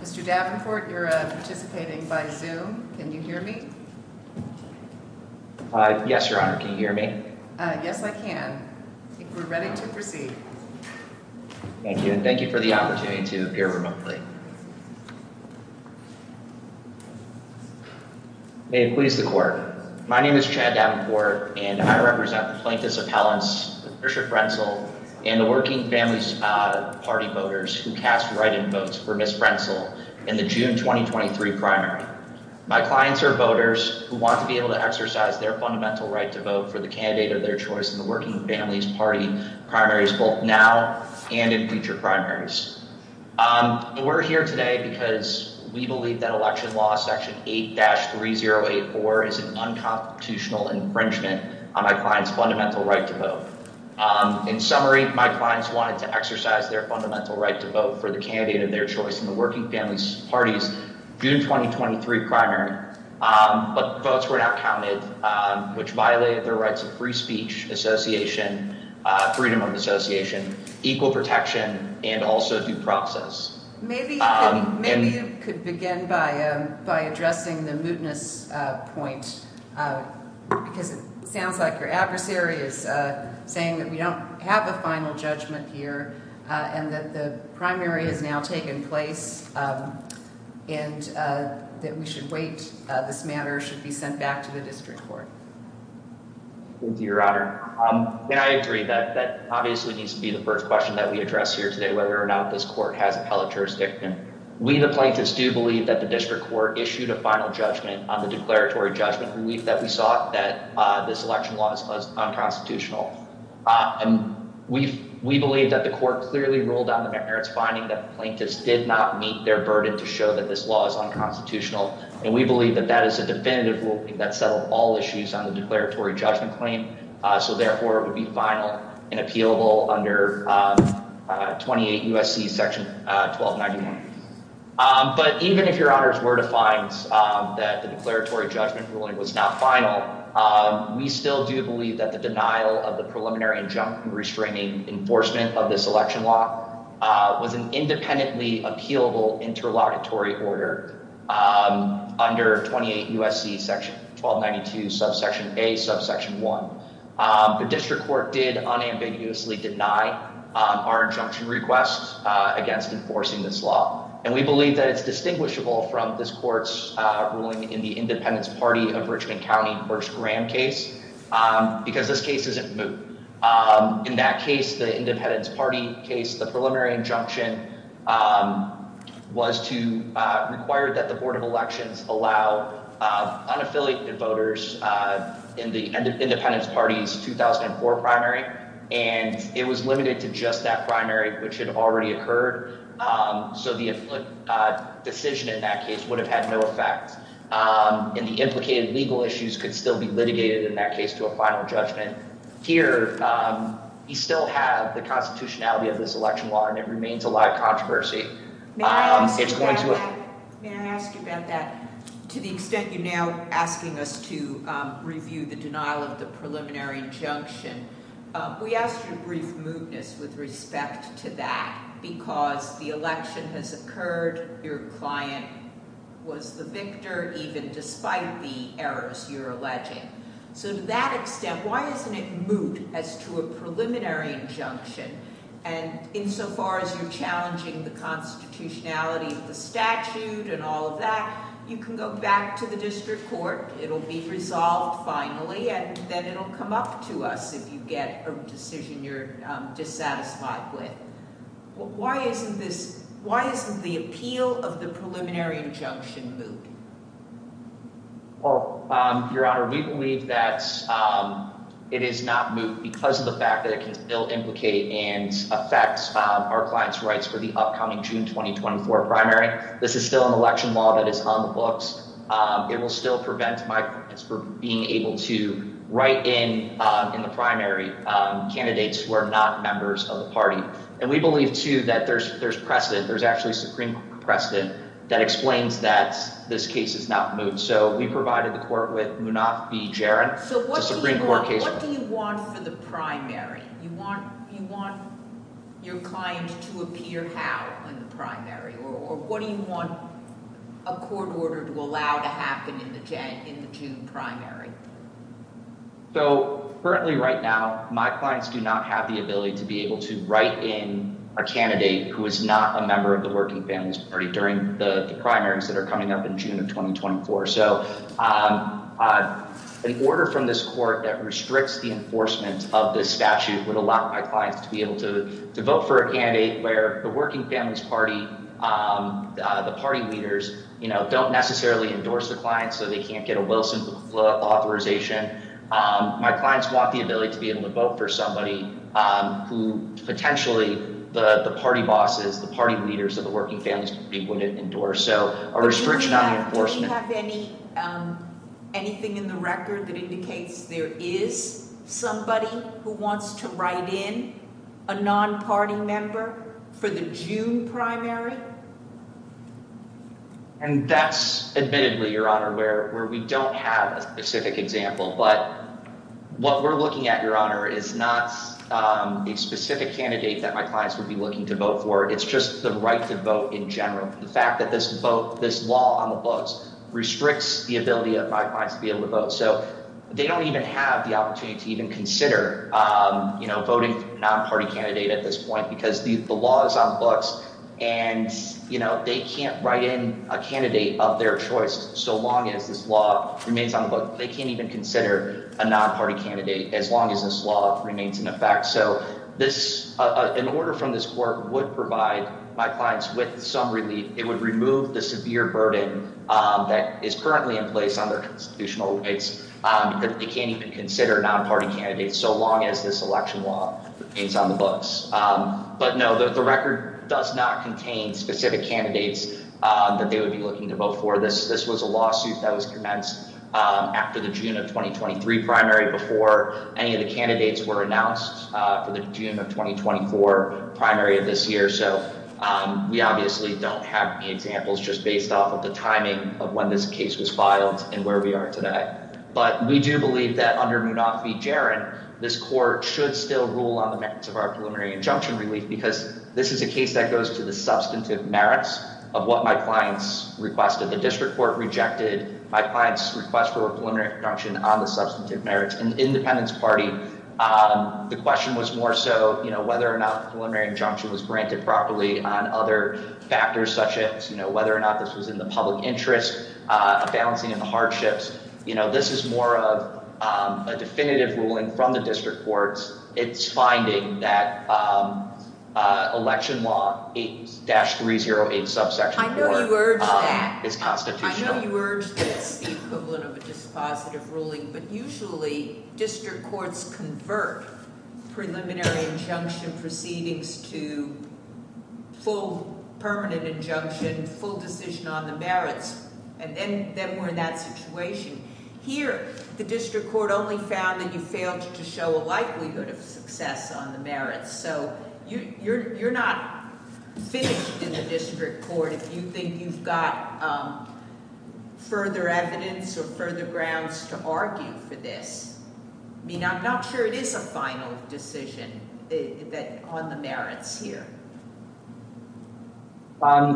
Mr. Davenport, you're participating by Zoom. Can you hear me? Yes, Your Honor. Can you hear me? Yes, I can. We're ready to proceed. Thank you. And thank you for the opportunity to appear remotely. May it please the court. My name is Chad Davenport, and I represent the plaintiffs' appellants, Mr. Frentzel, and the Working Families Party voters who cast write-in votes for Ms. Frentzel in the June 2023 primary. My clients are voters who want to be able to exercise their fundamental right to vote for the candidate of their choice in the Working Families Party primaries both now and in future primaries. We're here today because we believe that Election Law Section 8-3084 is an unconstitutional infringement on my client's fundamental right to vote. In summary, my clients wanted to exercise their fundamental right to vote for the candidate of their choice in the Working Families Party's June 2023 primary, but votes were not counted, which violated their rights of free speech, freedom of association, equal protection, and also due process. Maybe you could begin by addressing the mootness point, because it sounds like your adversary is saying that we don't have a final judgment here and that the primary has now taken place and that we should wait. This matter should be sent back to the district court. Thank you, Your Honor. I agree that that obviously needs to be the first question that we address here today, whether or not this court has appellate jurisdiction. We, the plaintiffs, do believe that the district court issued a final judgment on the declaratory judgment relief that we sought that this election law is unconstitutional. We believe that the court clearly ruled on the merits finding that the plaintiffs did not meet their burden to show that this law is unconstitutional, and we believe that that is a definitive ruling that settled all issues on the declaratory judgment claim, so therefore it would be final and appealable under 28 U.S.C. Section 1291. But even if, Your Honors, were to find that the declaratory judgment ruling was not final, we still do believe that the denial of the preliminary injunction restraining enforcement of this election law was an independently appealable interlocutory order under 28 U.S.C. Section 1292, Subsection A, Subsection 1. The district court did unambiguously deny our injunction request against enforcing this law, and we believe that it's distinguishable from this court's ruling in the Independence Party of Richmond County, because this case isn't moot. In that case, the Independence Party case, the preliminary injunction was to require that the Board of Elections allow unaffiliated voters in the Independence Party's 2004 primary, and it was limited to just that primary, which had already occurred, so the decision in that case would have had no effect. And the implicated legal issues could still be litigated in that case to a final judgment. Here, we still have the constitutionality of this election law, and it remains a live controversy. May I ask you about that? To the extent you're now asking us to review the denial of the preliminary injunction, we ask your brief mootness with respect to that, because the election has occurred. Your client was the victor, even despite the errors you're alleging. So to that extent, why isn't it moot as to a preliminary injunction? And insofar as you're challenging the constitutionality of the statute and all of that, you can go back to the district court. It'll be resolved finally, and then it'll come up to us if you get a decision you're dissatisfied with. Why isn't the appeal of the preliminary injunction moot? Your Honor, we believe that it is not moot because of the fact that it can still implicate and affect our client's rights for the upcoming June 2024 primary. This is still an election law that is on the books. It will still prevent my clients from being able to write in, in the primary, candidates who are not members of the party. And we believe, too, that there's precedent. There's actually supreme precedent that explains that this case is not moot. So we provided the court with Munafi Jarin. So what do you want for the primary? You want your client to appear how in the primary? Or what do you want a court order to allow to happen in the June primary? So currently right now, my clients do not have the ability to be able to write in a candidate who is not a member of the Working Families Party during the primaries that are coming up in June of 2024. So an order from this court that restricts the enforcement of this statute would allow my clients to be able to vote for a candidate where the Working Families Party, the party leaders, you know, don't necessarily endorse the client so they can't get a Wilson authorization. My clients want the ability to be able to vote for somebody who potentially the party bosses, the party leaders of the Working Families Party wouldn't endorse. Do we have anything in the record that indicates there is somebody who wants to write in a non-party member for the June primary? And that's admittedly, Your Honor, where we don't have a specific example. But what we're looking at, Your Honor, is not a specific candidate that my clients would be looking to vote for. It's just the right to vote in general. The fact that this vote, this law on the books restricts the ability of my clients to be able to vote. So they don't even have the opportunity to even consider voting for a non-party candidate at this point because the law is on the books. And, you know, they can't write in a candidate of their choice so long as this law remains on the books. They can't even consider a non-party candidate as long as this law remains in effect. So this, an order from this court would provide my clients with some relief. It would remove the severe burden that is currently in place on their constitutional rights. They can't even consider a non-party candidate so long as this election law remains on the books. But no, the record does not contain specific candidates that they would be looking to vote for. This was a lawsuit that was commenced after the June of 2023 primary before any of the candidates were announced for the June of 2024 primary of this year. So we obviously don't have any examples just based off of the timing of when this case was filed and where we are today. But we do believe that under Munafi Jarin, this court should still rule on the merits of our preliminary injunction relief because this is a case that goes to the substantive merits of what my clients requested. The district court rejected my client's request for a preliminary injunction on the substantive merits. And the Independence Party, the question was more so, you know, whether or not the preliminary injunction was granted properly on other factors such as, you know, whether or not this was in the public interest, a balancing of the hardships. You know, this is more of a definitive ruling from the district courts. It's finding that election law 8-308 subsection 4 is constitutional. I know you urge that. I know you urge that it's the equivalent of a dispositive ruling. But usually district courts convert preliminary injunction proceedings to full permanent injunction, full decision on the merits. And then we're in that situation. Here, the district court only found that you failed to show a likelihood of success on the merits. So you're not finished in the district court if you think you've got further evidence or further grounds to argue for this. I mean, I'm not sure it is a final decision on the merits here.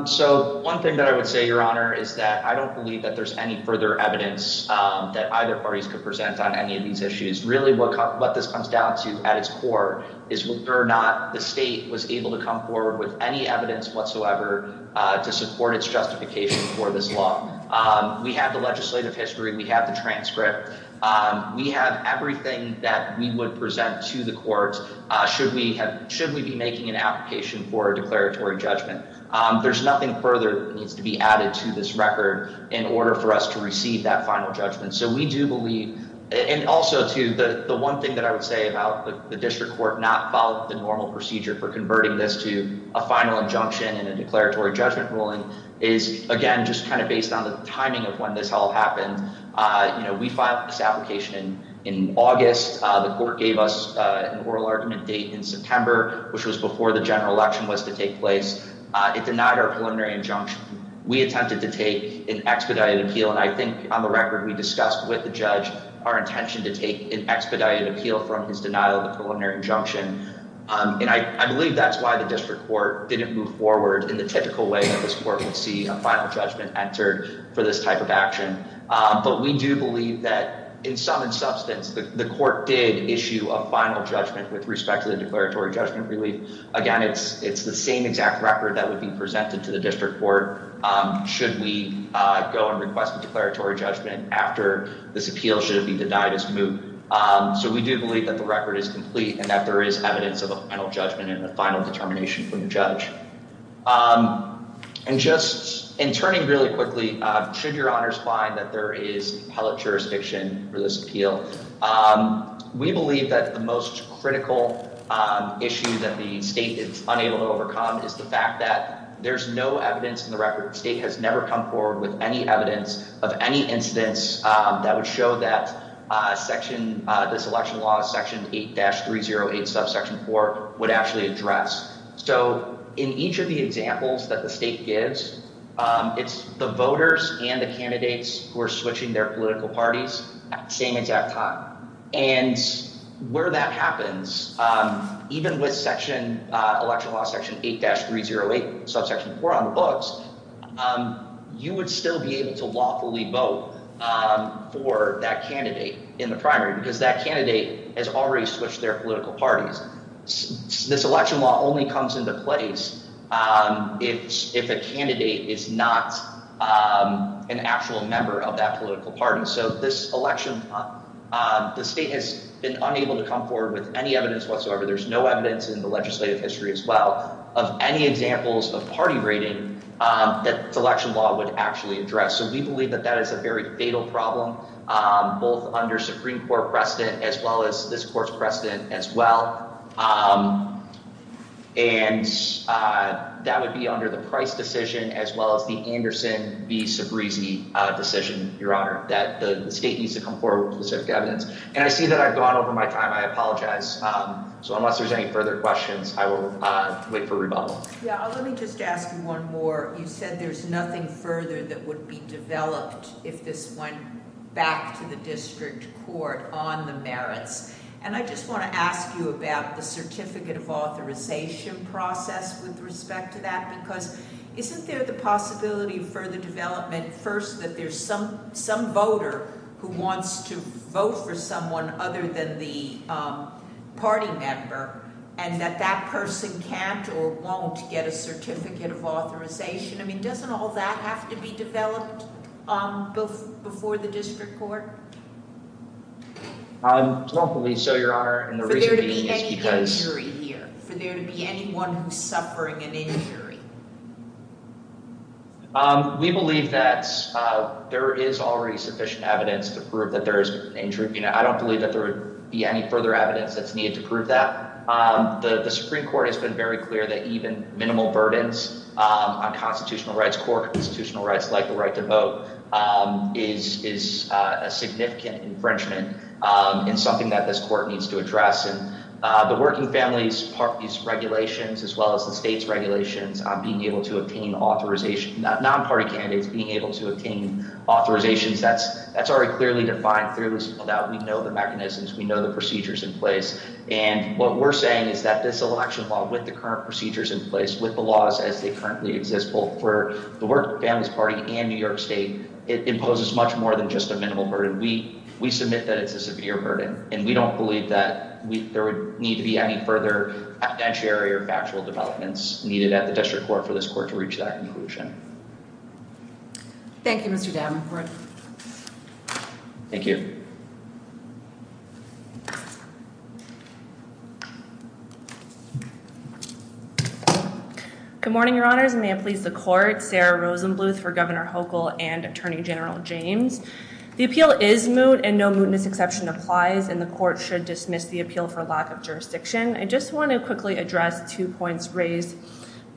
So one thing that I would say, Your Honor, is that I don't believe that there's any further evidence that either parties could present on any of these issues. Really, what this comes down to at its core is whether or not the state was able to come forward with any evidence whatsoever to support its justification for this law. We have the legislative history. We have the transcript. We have everything that we would present to the courts should we be making an application for a declaratory judgment. There's nothing further that needs to be added to this record in order for us to receive that final judgment. And also, too, the one thing that I would say about the district court not following the normal procedure for converting this to a final injunction and a declaratory judgment ruling is, again, just kind of based on the timing of when this all happened. We filed this application in August. The court gave us an oral argument date in September, which was before the general election was to take place. It denied our preliminary injunction. We attempted to take an expedited appeal, and I think on the record we discussed with the judge our intention to take an expedited appeal from his denial of the preliminary injunction. And I believe that's why the district court didn't move forward in the typical way that this court would see a final judgment entered for this type of action. But we do believe that, in sum and substance, the court did issue a final judgment with respect to the declaratory judgment relief. Again, it's the same exact record that would be presented to the district court should we go and request a declaratory judgment after this appeal should have been denied its move. So we do believe that the record is complete and that there is evidence of a final judgment and a final determination from the judge. And just in turning really quickly, should your honors find that there is appellate jurisdiction for this appeal, we believe that the most critical issue that the state is unable to overcome is the fact that there's no evidence in the record. The state has never come forward with any evidence of any instance that would show that this election law, Section 8-308, Subsection 4, would actually address. So in each of the examples that the state gives, it's the voters and the candidates who are switching their political parties at the same exact time. And where that happens, even with election law Section 8-308, Subsection 4 on the books, you would still be able to lawfully vote for that candidate in the primary because that candidate has already switched their political parties. This election law only comes into place if a candidate is not an actual member of that political party. So this election, the state has been unable to come forward with any evidence whatsoever. There's no evidence in the legislative history as well of any examples of party rating that this election law would actually address. So we believe that that is a very fatal problem, both under Supreme Court precedent as well as this court's precedent as well. And that would be under the Price decision as well as the Anderson v. Sabreezy decision, Your Honor, that the state needs to come forward with specific evidence. And I see that I've gone over my time. I apologize. So unless there's any further questions, I will wait for rebuttal. Yeah, let me just ask you one more. You said there's nothing further that would be developed if this went back to the district court on the merits. And I just want to ask you about the certificate of authorization process with respect to that, because isn't there the possibility of further development first that there's some voter who wants to vote for someone other than the party member and that that person can't or won't get a certificate of authorization? I mean, doesn't all that have to be developed before the district court? Well, hopefully so, Your Honor. For there to be any injury here, for there to be anyone who's suffering an injury? We believe that there is already sufficient evidence to prove that there is an injury. I don't believe that there would be any further evidence that's needed to prove that. The Supreme Court has been very clear that even minimal burdens on constitutional rights, core constitutional rights like the right to vote, is a significant infringement and something that this court needs to address. And the working families, parties, regulations, as well as the state's regulations on being able to obtain authorization, non-party candidates being able to obtain authorizations, that's already clearly defined through this. We know the mechanisms. We know the procedures in place. And what we're saying is that this election law, with the current procedures in place, with the laws as they currently exist, both for the Working Families Party and New York State, it imposes much more than just a minimal burden. We submit that it's a severe burden, and we don't believe that there would need to be any further evidentiary or factual developments needed at the district court for this court to reach that conclusion. Thank you, Mr. Davenport. Thank you. Good morning, Your Honors, and may it please the court, Sarah Rosenbluth for Governor Hochul and Attorney General James. The appeal is moot, and no mootness exception applies, and the court should dismiss the appeal for lack of jurisdiction. I just want to quickly address two points raised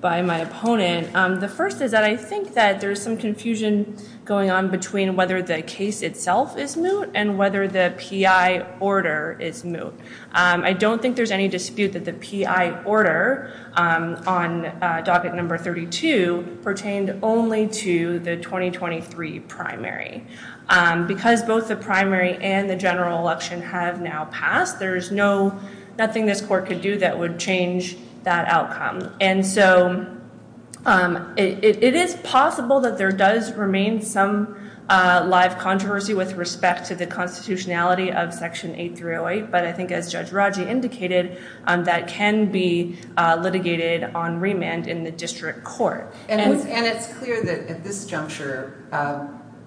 by my opponent. The first is that I think that there's some confusion going on between whether the case itself is moot and whether the P.I. order is moot. I don't think there's any dispute that the P.I. order on docket number 32 pertained only to the 2023 primary. Because both the primary and the general election have now passed, there's nothing this court could do that would change that outcome. And so it is possible that there does remain some live controversy with respect to the constitutionality of Section 8308, but I think as Judge Raji indicated, that can be litigated on remand in the district court. And it's clear that at this juncture,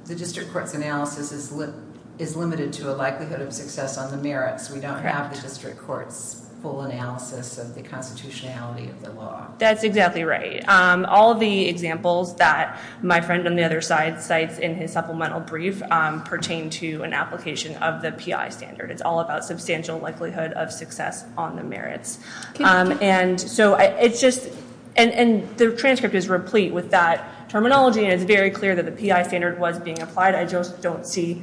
the district court's analysis is limited to a likelihood of success on the merits. We don't have the district court's full analysis of the constitutionality of the law. That's exactly right. All of the examples that my friend on the other side cites in his supplemental brief pertain to an application of the P.I. standard. It's all about substantial likelihood of success on the merits. And so it's just, and the transcript is replete with that terminology. It's very clear that the P.I. standard was being applied. I just don't see,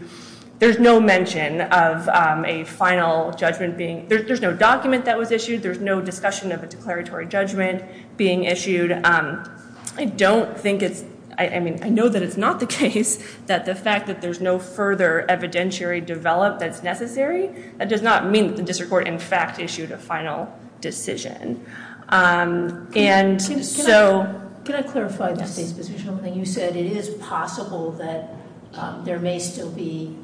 there's no mention of a final judgment being, there's no document that was issued. There's no discussion of a declaratory judgment being issued. I don't think it's, I mean, I know that it's not the case that the fact that there's no further evidentiary develop that's necessary, that does not mean that the district court in fact issued a final decision. And so- Can I clarify the state's position on something you said? It is possible that there may still be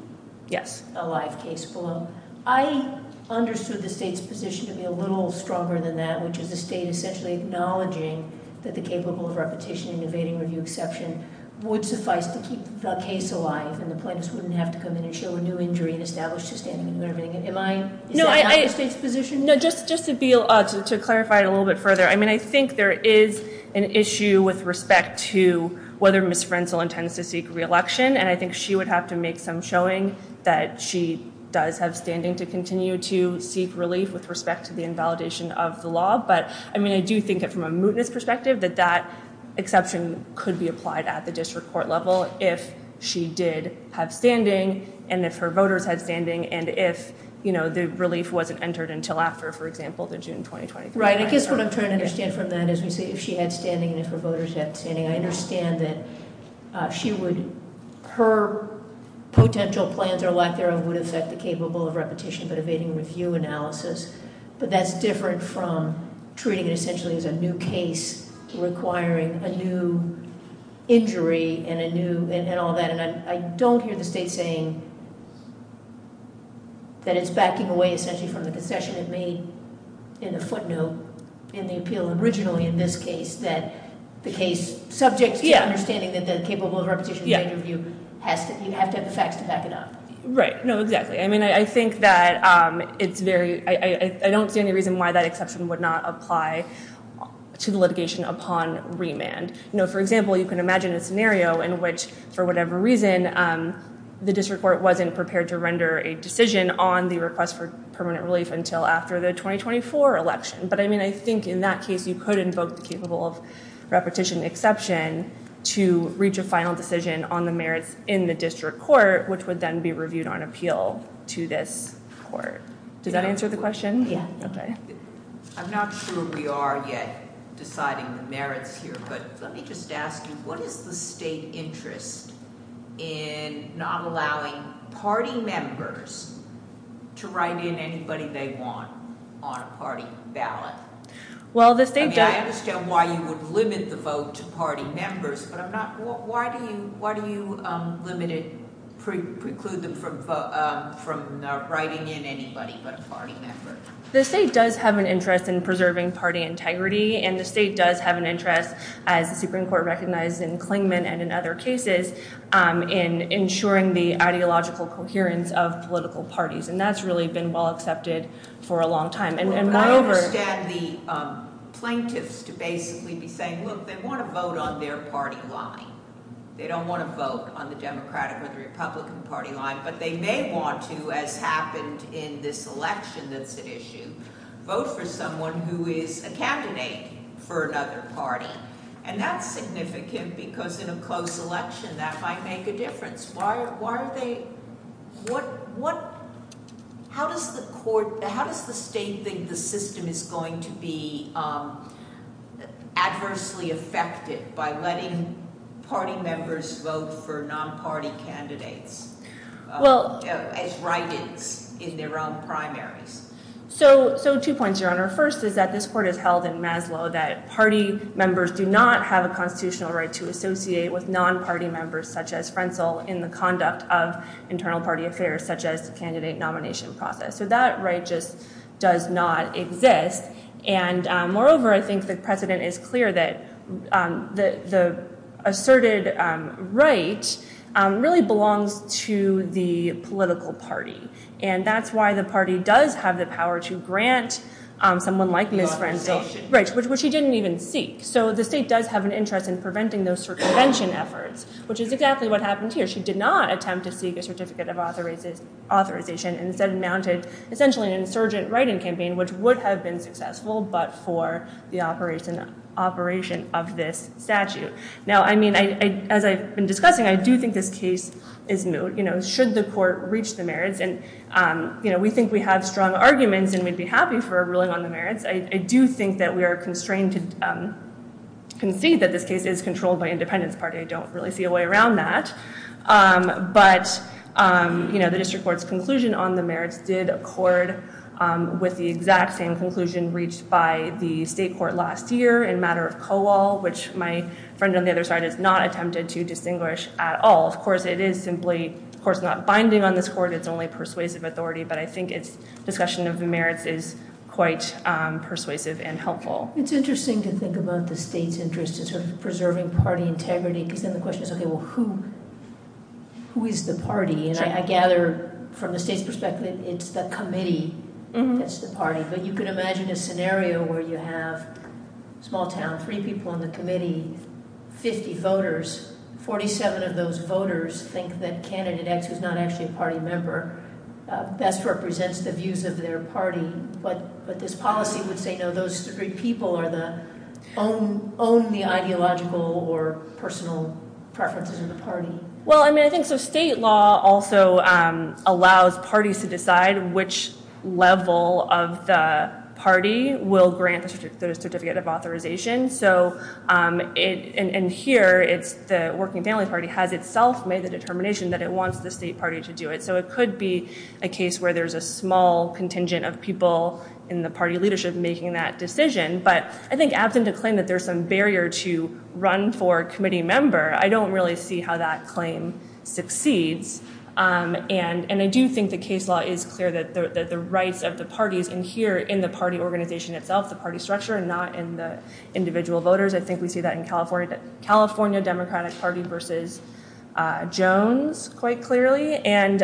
a live case below. I understood the state's position to be a little stronger than that, which is the state essentially acknowledging that the capable of repetition and evading review exception would suffice to keep the case alive. And the plaintiffs wouldn't have to come in and show a new injury and establish the standing and everything. Am I, is that not the state's position? No, just to be, to clarify it a little bit further. I mean, I think there is an issue with respect to whether Ms. Frenzel intends to seek re-election. And I think she would have to make some showing that she does have standing to continue to seek relief with respect to the invalidation of the law. But, I mean, I do think that from a mootness perspective that that exception could be applied at the district court level if she did have standing, and if her voters had standing, and if, you know, the relief wasn't entered until after, for example, the June 2020- Right, I guess what I'm trying to understand from that is if she had standing and if her voters had standing, I understand that she would, her potential plans or lack thereof would affect the capable of repetition but evading review analysis. But that's different from treating it essentially as a new case requiring a new injury and a new, and all that. And I don't hear the state saying that it's backing away essentially from the concession it made in the footnote in the appeal originally in this case, that the case, subject to understanding that the capable of repetition and evading review has to, you have to have the facts to back it up. Right. No, exactly. I mean, I think that it's very, I don't see any reason why that exception would not apply to the litigation upon remand. No, for example, you can imagine a scenario in which, for whatever reason, the district court wasn't prepared to render a decision on the request for permanent relief until after the 2024 election. But, I mean, I think in that case, you could invoke the capable of repetition exception to reach a final decision on the merits in the district court, which would then be reviewed on appeal to this court. Does that answer the question? Yeah. Okay. I'm not sure we are yet deciding the merits here, but let me just ask you, what is the state interest in not allowing party members to write in anybody they want on a party ballot? I mean, I understand why you would limit the vote to party members, but I'm not, why do you limit it, preclude them from writing in anybody but a party member? The state does have an interest in preserving party integrity, and the state does have an interest, as the Supreme Court recognized in Clingman and in other cases, in ensuring the ideological coherence of political parties. And that's really been well accepted for a long time. I understand the plaintiffs to basically be saying, look, they want to vote on their party line. They don't want to vote on the Democratic or the Republican party line, but they may want to, as happened in this election that's at issue, vote for someone who is a candidate for another party. And that's significant because in a closed election, that might make a difference. Why are they, what, how does the court, how does the state think the system is going to be adversely affected by letting party members vote for non-party candidates as write-ins in their own primaries? So two points, Your Honor. First is that this court has held in Maslow that party members do not have a constitutional right to associate with non-party members, such as Frenzel, in the conduct of internal party affairs, such as the candidate nomination process. So that right just does not exist. And moreover, I think the precedent is clear that the asserted right really belongs to the political party. And that's why the party does have the power to grant someone like Ms. Frenzel, which she didn't even seek. So the state does have an interest in preventing those circumvention efforts, which is exactly what happened here. She did not attempt to seek a certificate of authorization and instead mounted essentially an insurgent write-in campaign, which would have been successful, but for the operation of this statute. Now, I mean, as I've been discussing, I do think this case is moot. Should the court reach the merits, and we think we have strong arguments and we'd be happy for a ruling on the merits, I do think that we are constrained to concede that this case is controlled by Independence Party. I don't really see a way around that. But the district court's conclusion on the merits did accord with the exact same conclusion reached by the state court last year in matter of COAL, which my friend on the other side has not attempted to distinguish at all. Of course, it is simply, of course, not binding on this court. It's only persuasive authority, but I think its discussion of merits is quite persuasive and helpful. It's interesting to think about the state's interest in sort of preserving party integrity, because then the question is, okay, well, who is the party? And I gather from the state's perspective, it's the committee that's the party. But you could imagine a scenario where you have a small town, three people on the committee, 50 voters. 47 of those voters think that candidate X, who's not actually a party member, best represents the views of their party. But this policy would say, no, those three people own the ideological or personal preferences of the party. Well, I mean, I think so state law also allows parties to decide which level of the party will grant the certificate of authorization. So in here, it's the working family party has itself made the determination that it wants the state party to do it. So it could be a case where there's a small contingent of people in the party leadership making that decision. But I think after the claim that there's some barrier to run for committee member, I don't really see how that claim succeeds. And I do think the case law is clear that the rights of the parties in here, in the party organization itself, the party structure, and not in the individual voters. I think we see that in California Democratic Party versus Jones quite clearly. And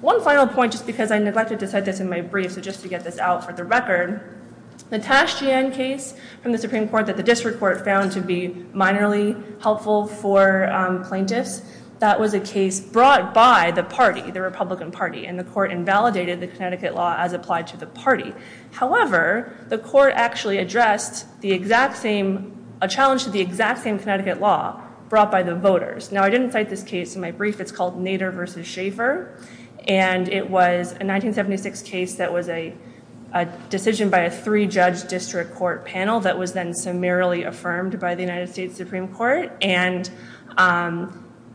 one final point, just because I neglected to cite this in my brief, so just to get this out for the record, the Tasjian case from the Supreme Court that the district court found to be minorly helpful for plaintiffs, that was a case brought by the party, the Republican Party. And the court invalidated the Connecticut law as applied to the party. However, the court actually addressed a challenge to the exact same Connecticut law brought by the voters. Now, I didn't cite this case in my brief. It's called Nader versus Schaefer. And it was a 1976 case that was a decision by a three-judge district court panel that was then summarily affirmed by the United States Supreme Court. And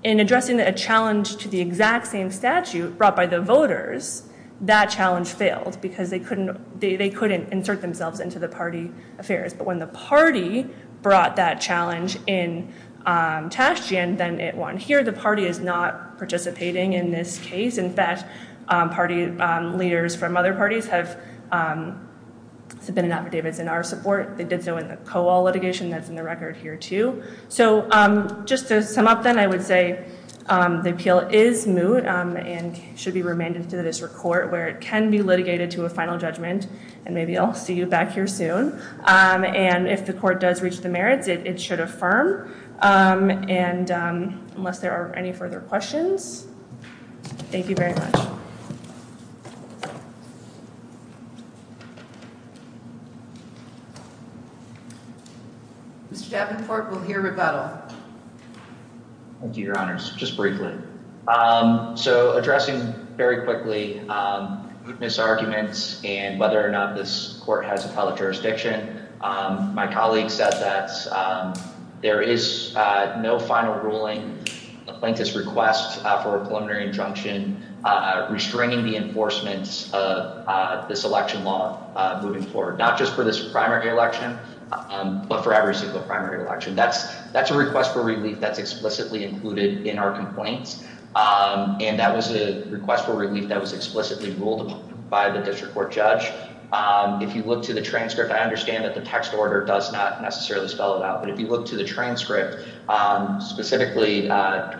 in addressing a challenge to the exact same statute brought by the voters, that challenge failed because they couldn't insert themselves into the party affairs. But when the party brought that challenge in Tasjian, then it won. Here, the party is not participating in this case. In fact, party leaders from other parties have submitted affidavits in our support. They did so in the Coal litigation that's in the record here, too. So just to sum up, then, I would say the appeal is moot and should be remanded to the district court where it can be litigated to a final judgment. And maybe I'll see you back here soon. And if the court does reach the merits, it should affirm. And unless there are any further questions, thank you very much. Thank you. Mr. Davenport, we'll hear rebuttal. Thank you, Your Honors. Just briefly. So addressing very quickly mootness arguments and whether or not this court has appellate jurisdiction, my colleague said that there is no final ruling plaintiff's request for a preliminary injunction restricting the enforcement of this election law moving forward. Not just for this primary election, but for every single primary election. That's that's a request for relief that's explicitly included in our complaints. And that was a request for relief that was explicitly ruled by the district court judge. If you look to the transcript, I understand that the text order does not necessarily spell it out. But if you look to the transcript specifically,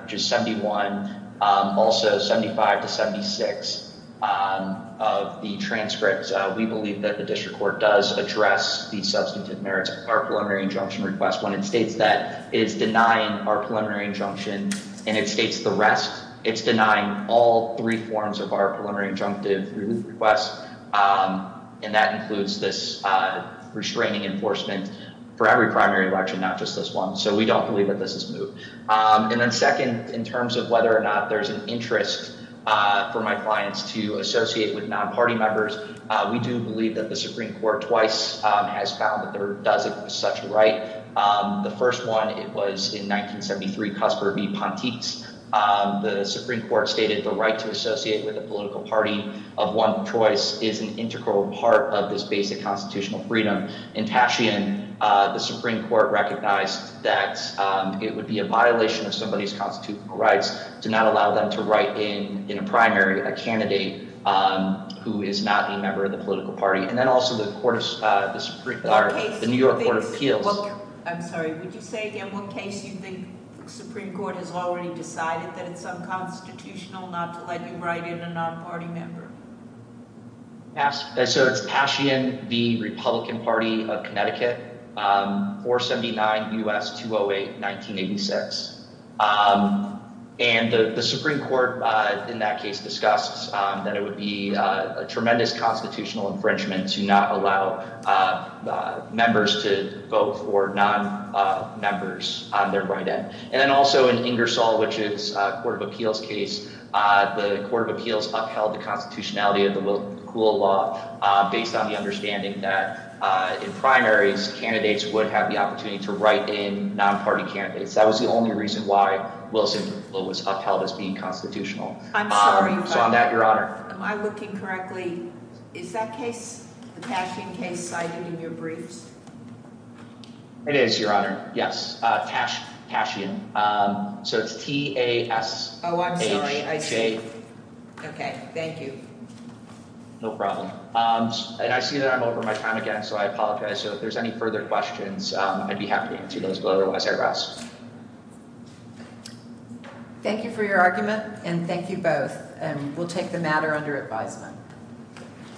just 71, also 75 to 76 of the transcripts, we believe that the district court does address the substantive merits of our preliminary injunction request when it states that it's denying our preliminary injunction. And it states the rest. It's denying all three forms of our preliminary injunctive request. And that includes this restraining enforcement for every primary election, not just this one. So we don't believe that this is moot. And then second, in terms of whether or not there's an interest for my clients to associate with non-party members. We do believe that the Supreme Court twice has found that there doesn't such right. The first one, it was in 1973, Cusper v. Pontice. The Supreme Court stated the right to associate with a political party of one choice is an integral part of this basic constitutional freedom. In Tashian, the Supreme Court recognized that it would be a violation of somebody's constitutional rights to not allow them to write in a primary a candidate who is not a member of the political party. And then also the New York Court of Appeals. I'm sorry. Would you say again what case you think the Supreme Court has already decided that it's unconstitutional not to let you write in a non-party member? So it's Tashian v. Republican Party of Connecticut, 479 U.S. 208, 1986. And the Supreme Court in that case discussed that it would be a tremendous constitutional infringement to not allow members to vote for non-members on their write-in. And then also in Ingersoll, which is a Court of Appeals case, the Court of Appeals upheld the constitutionality of the McCool Law based on the understanding that in primaries, candidates would have the opportunity to write in non-party candidates. That was the only reason why Wilson Law was upheld as being constitutional. I'm sorry. So on that, Your Honor. Am I looking correctly? Is that case, the Tashian case, cited in your briefs? It is, Your Honor. Yes. Tashian. So it's T-A-S-H-A. Oh, I'm sorry. I see. Okay. Thank you. No problem. And I see that I'm over my time again, so I apologize. So if there's any further questions, I'd be happy to answer those. Otherwise, I rest. Thank you for your argument, and thank you both. We'll take the matter under advisement.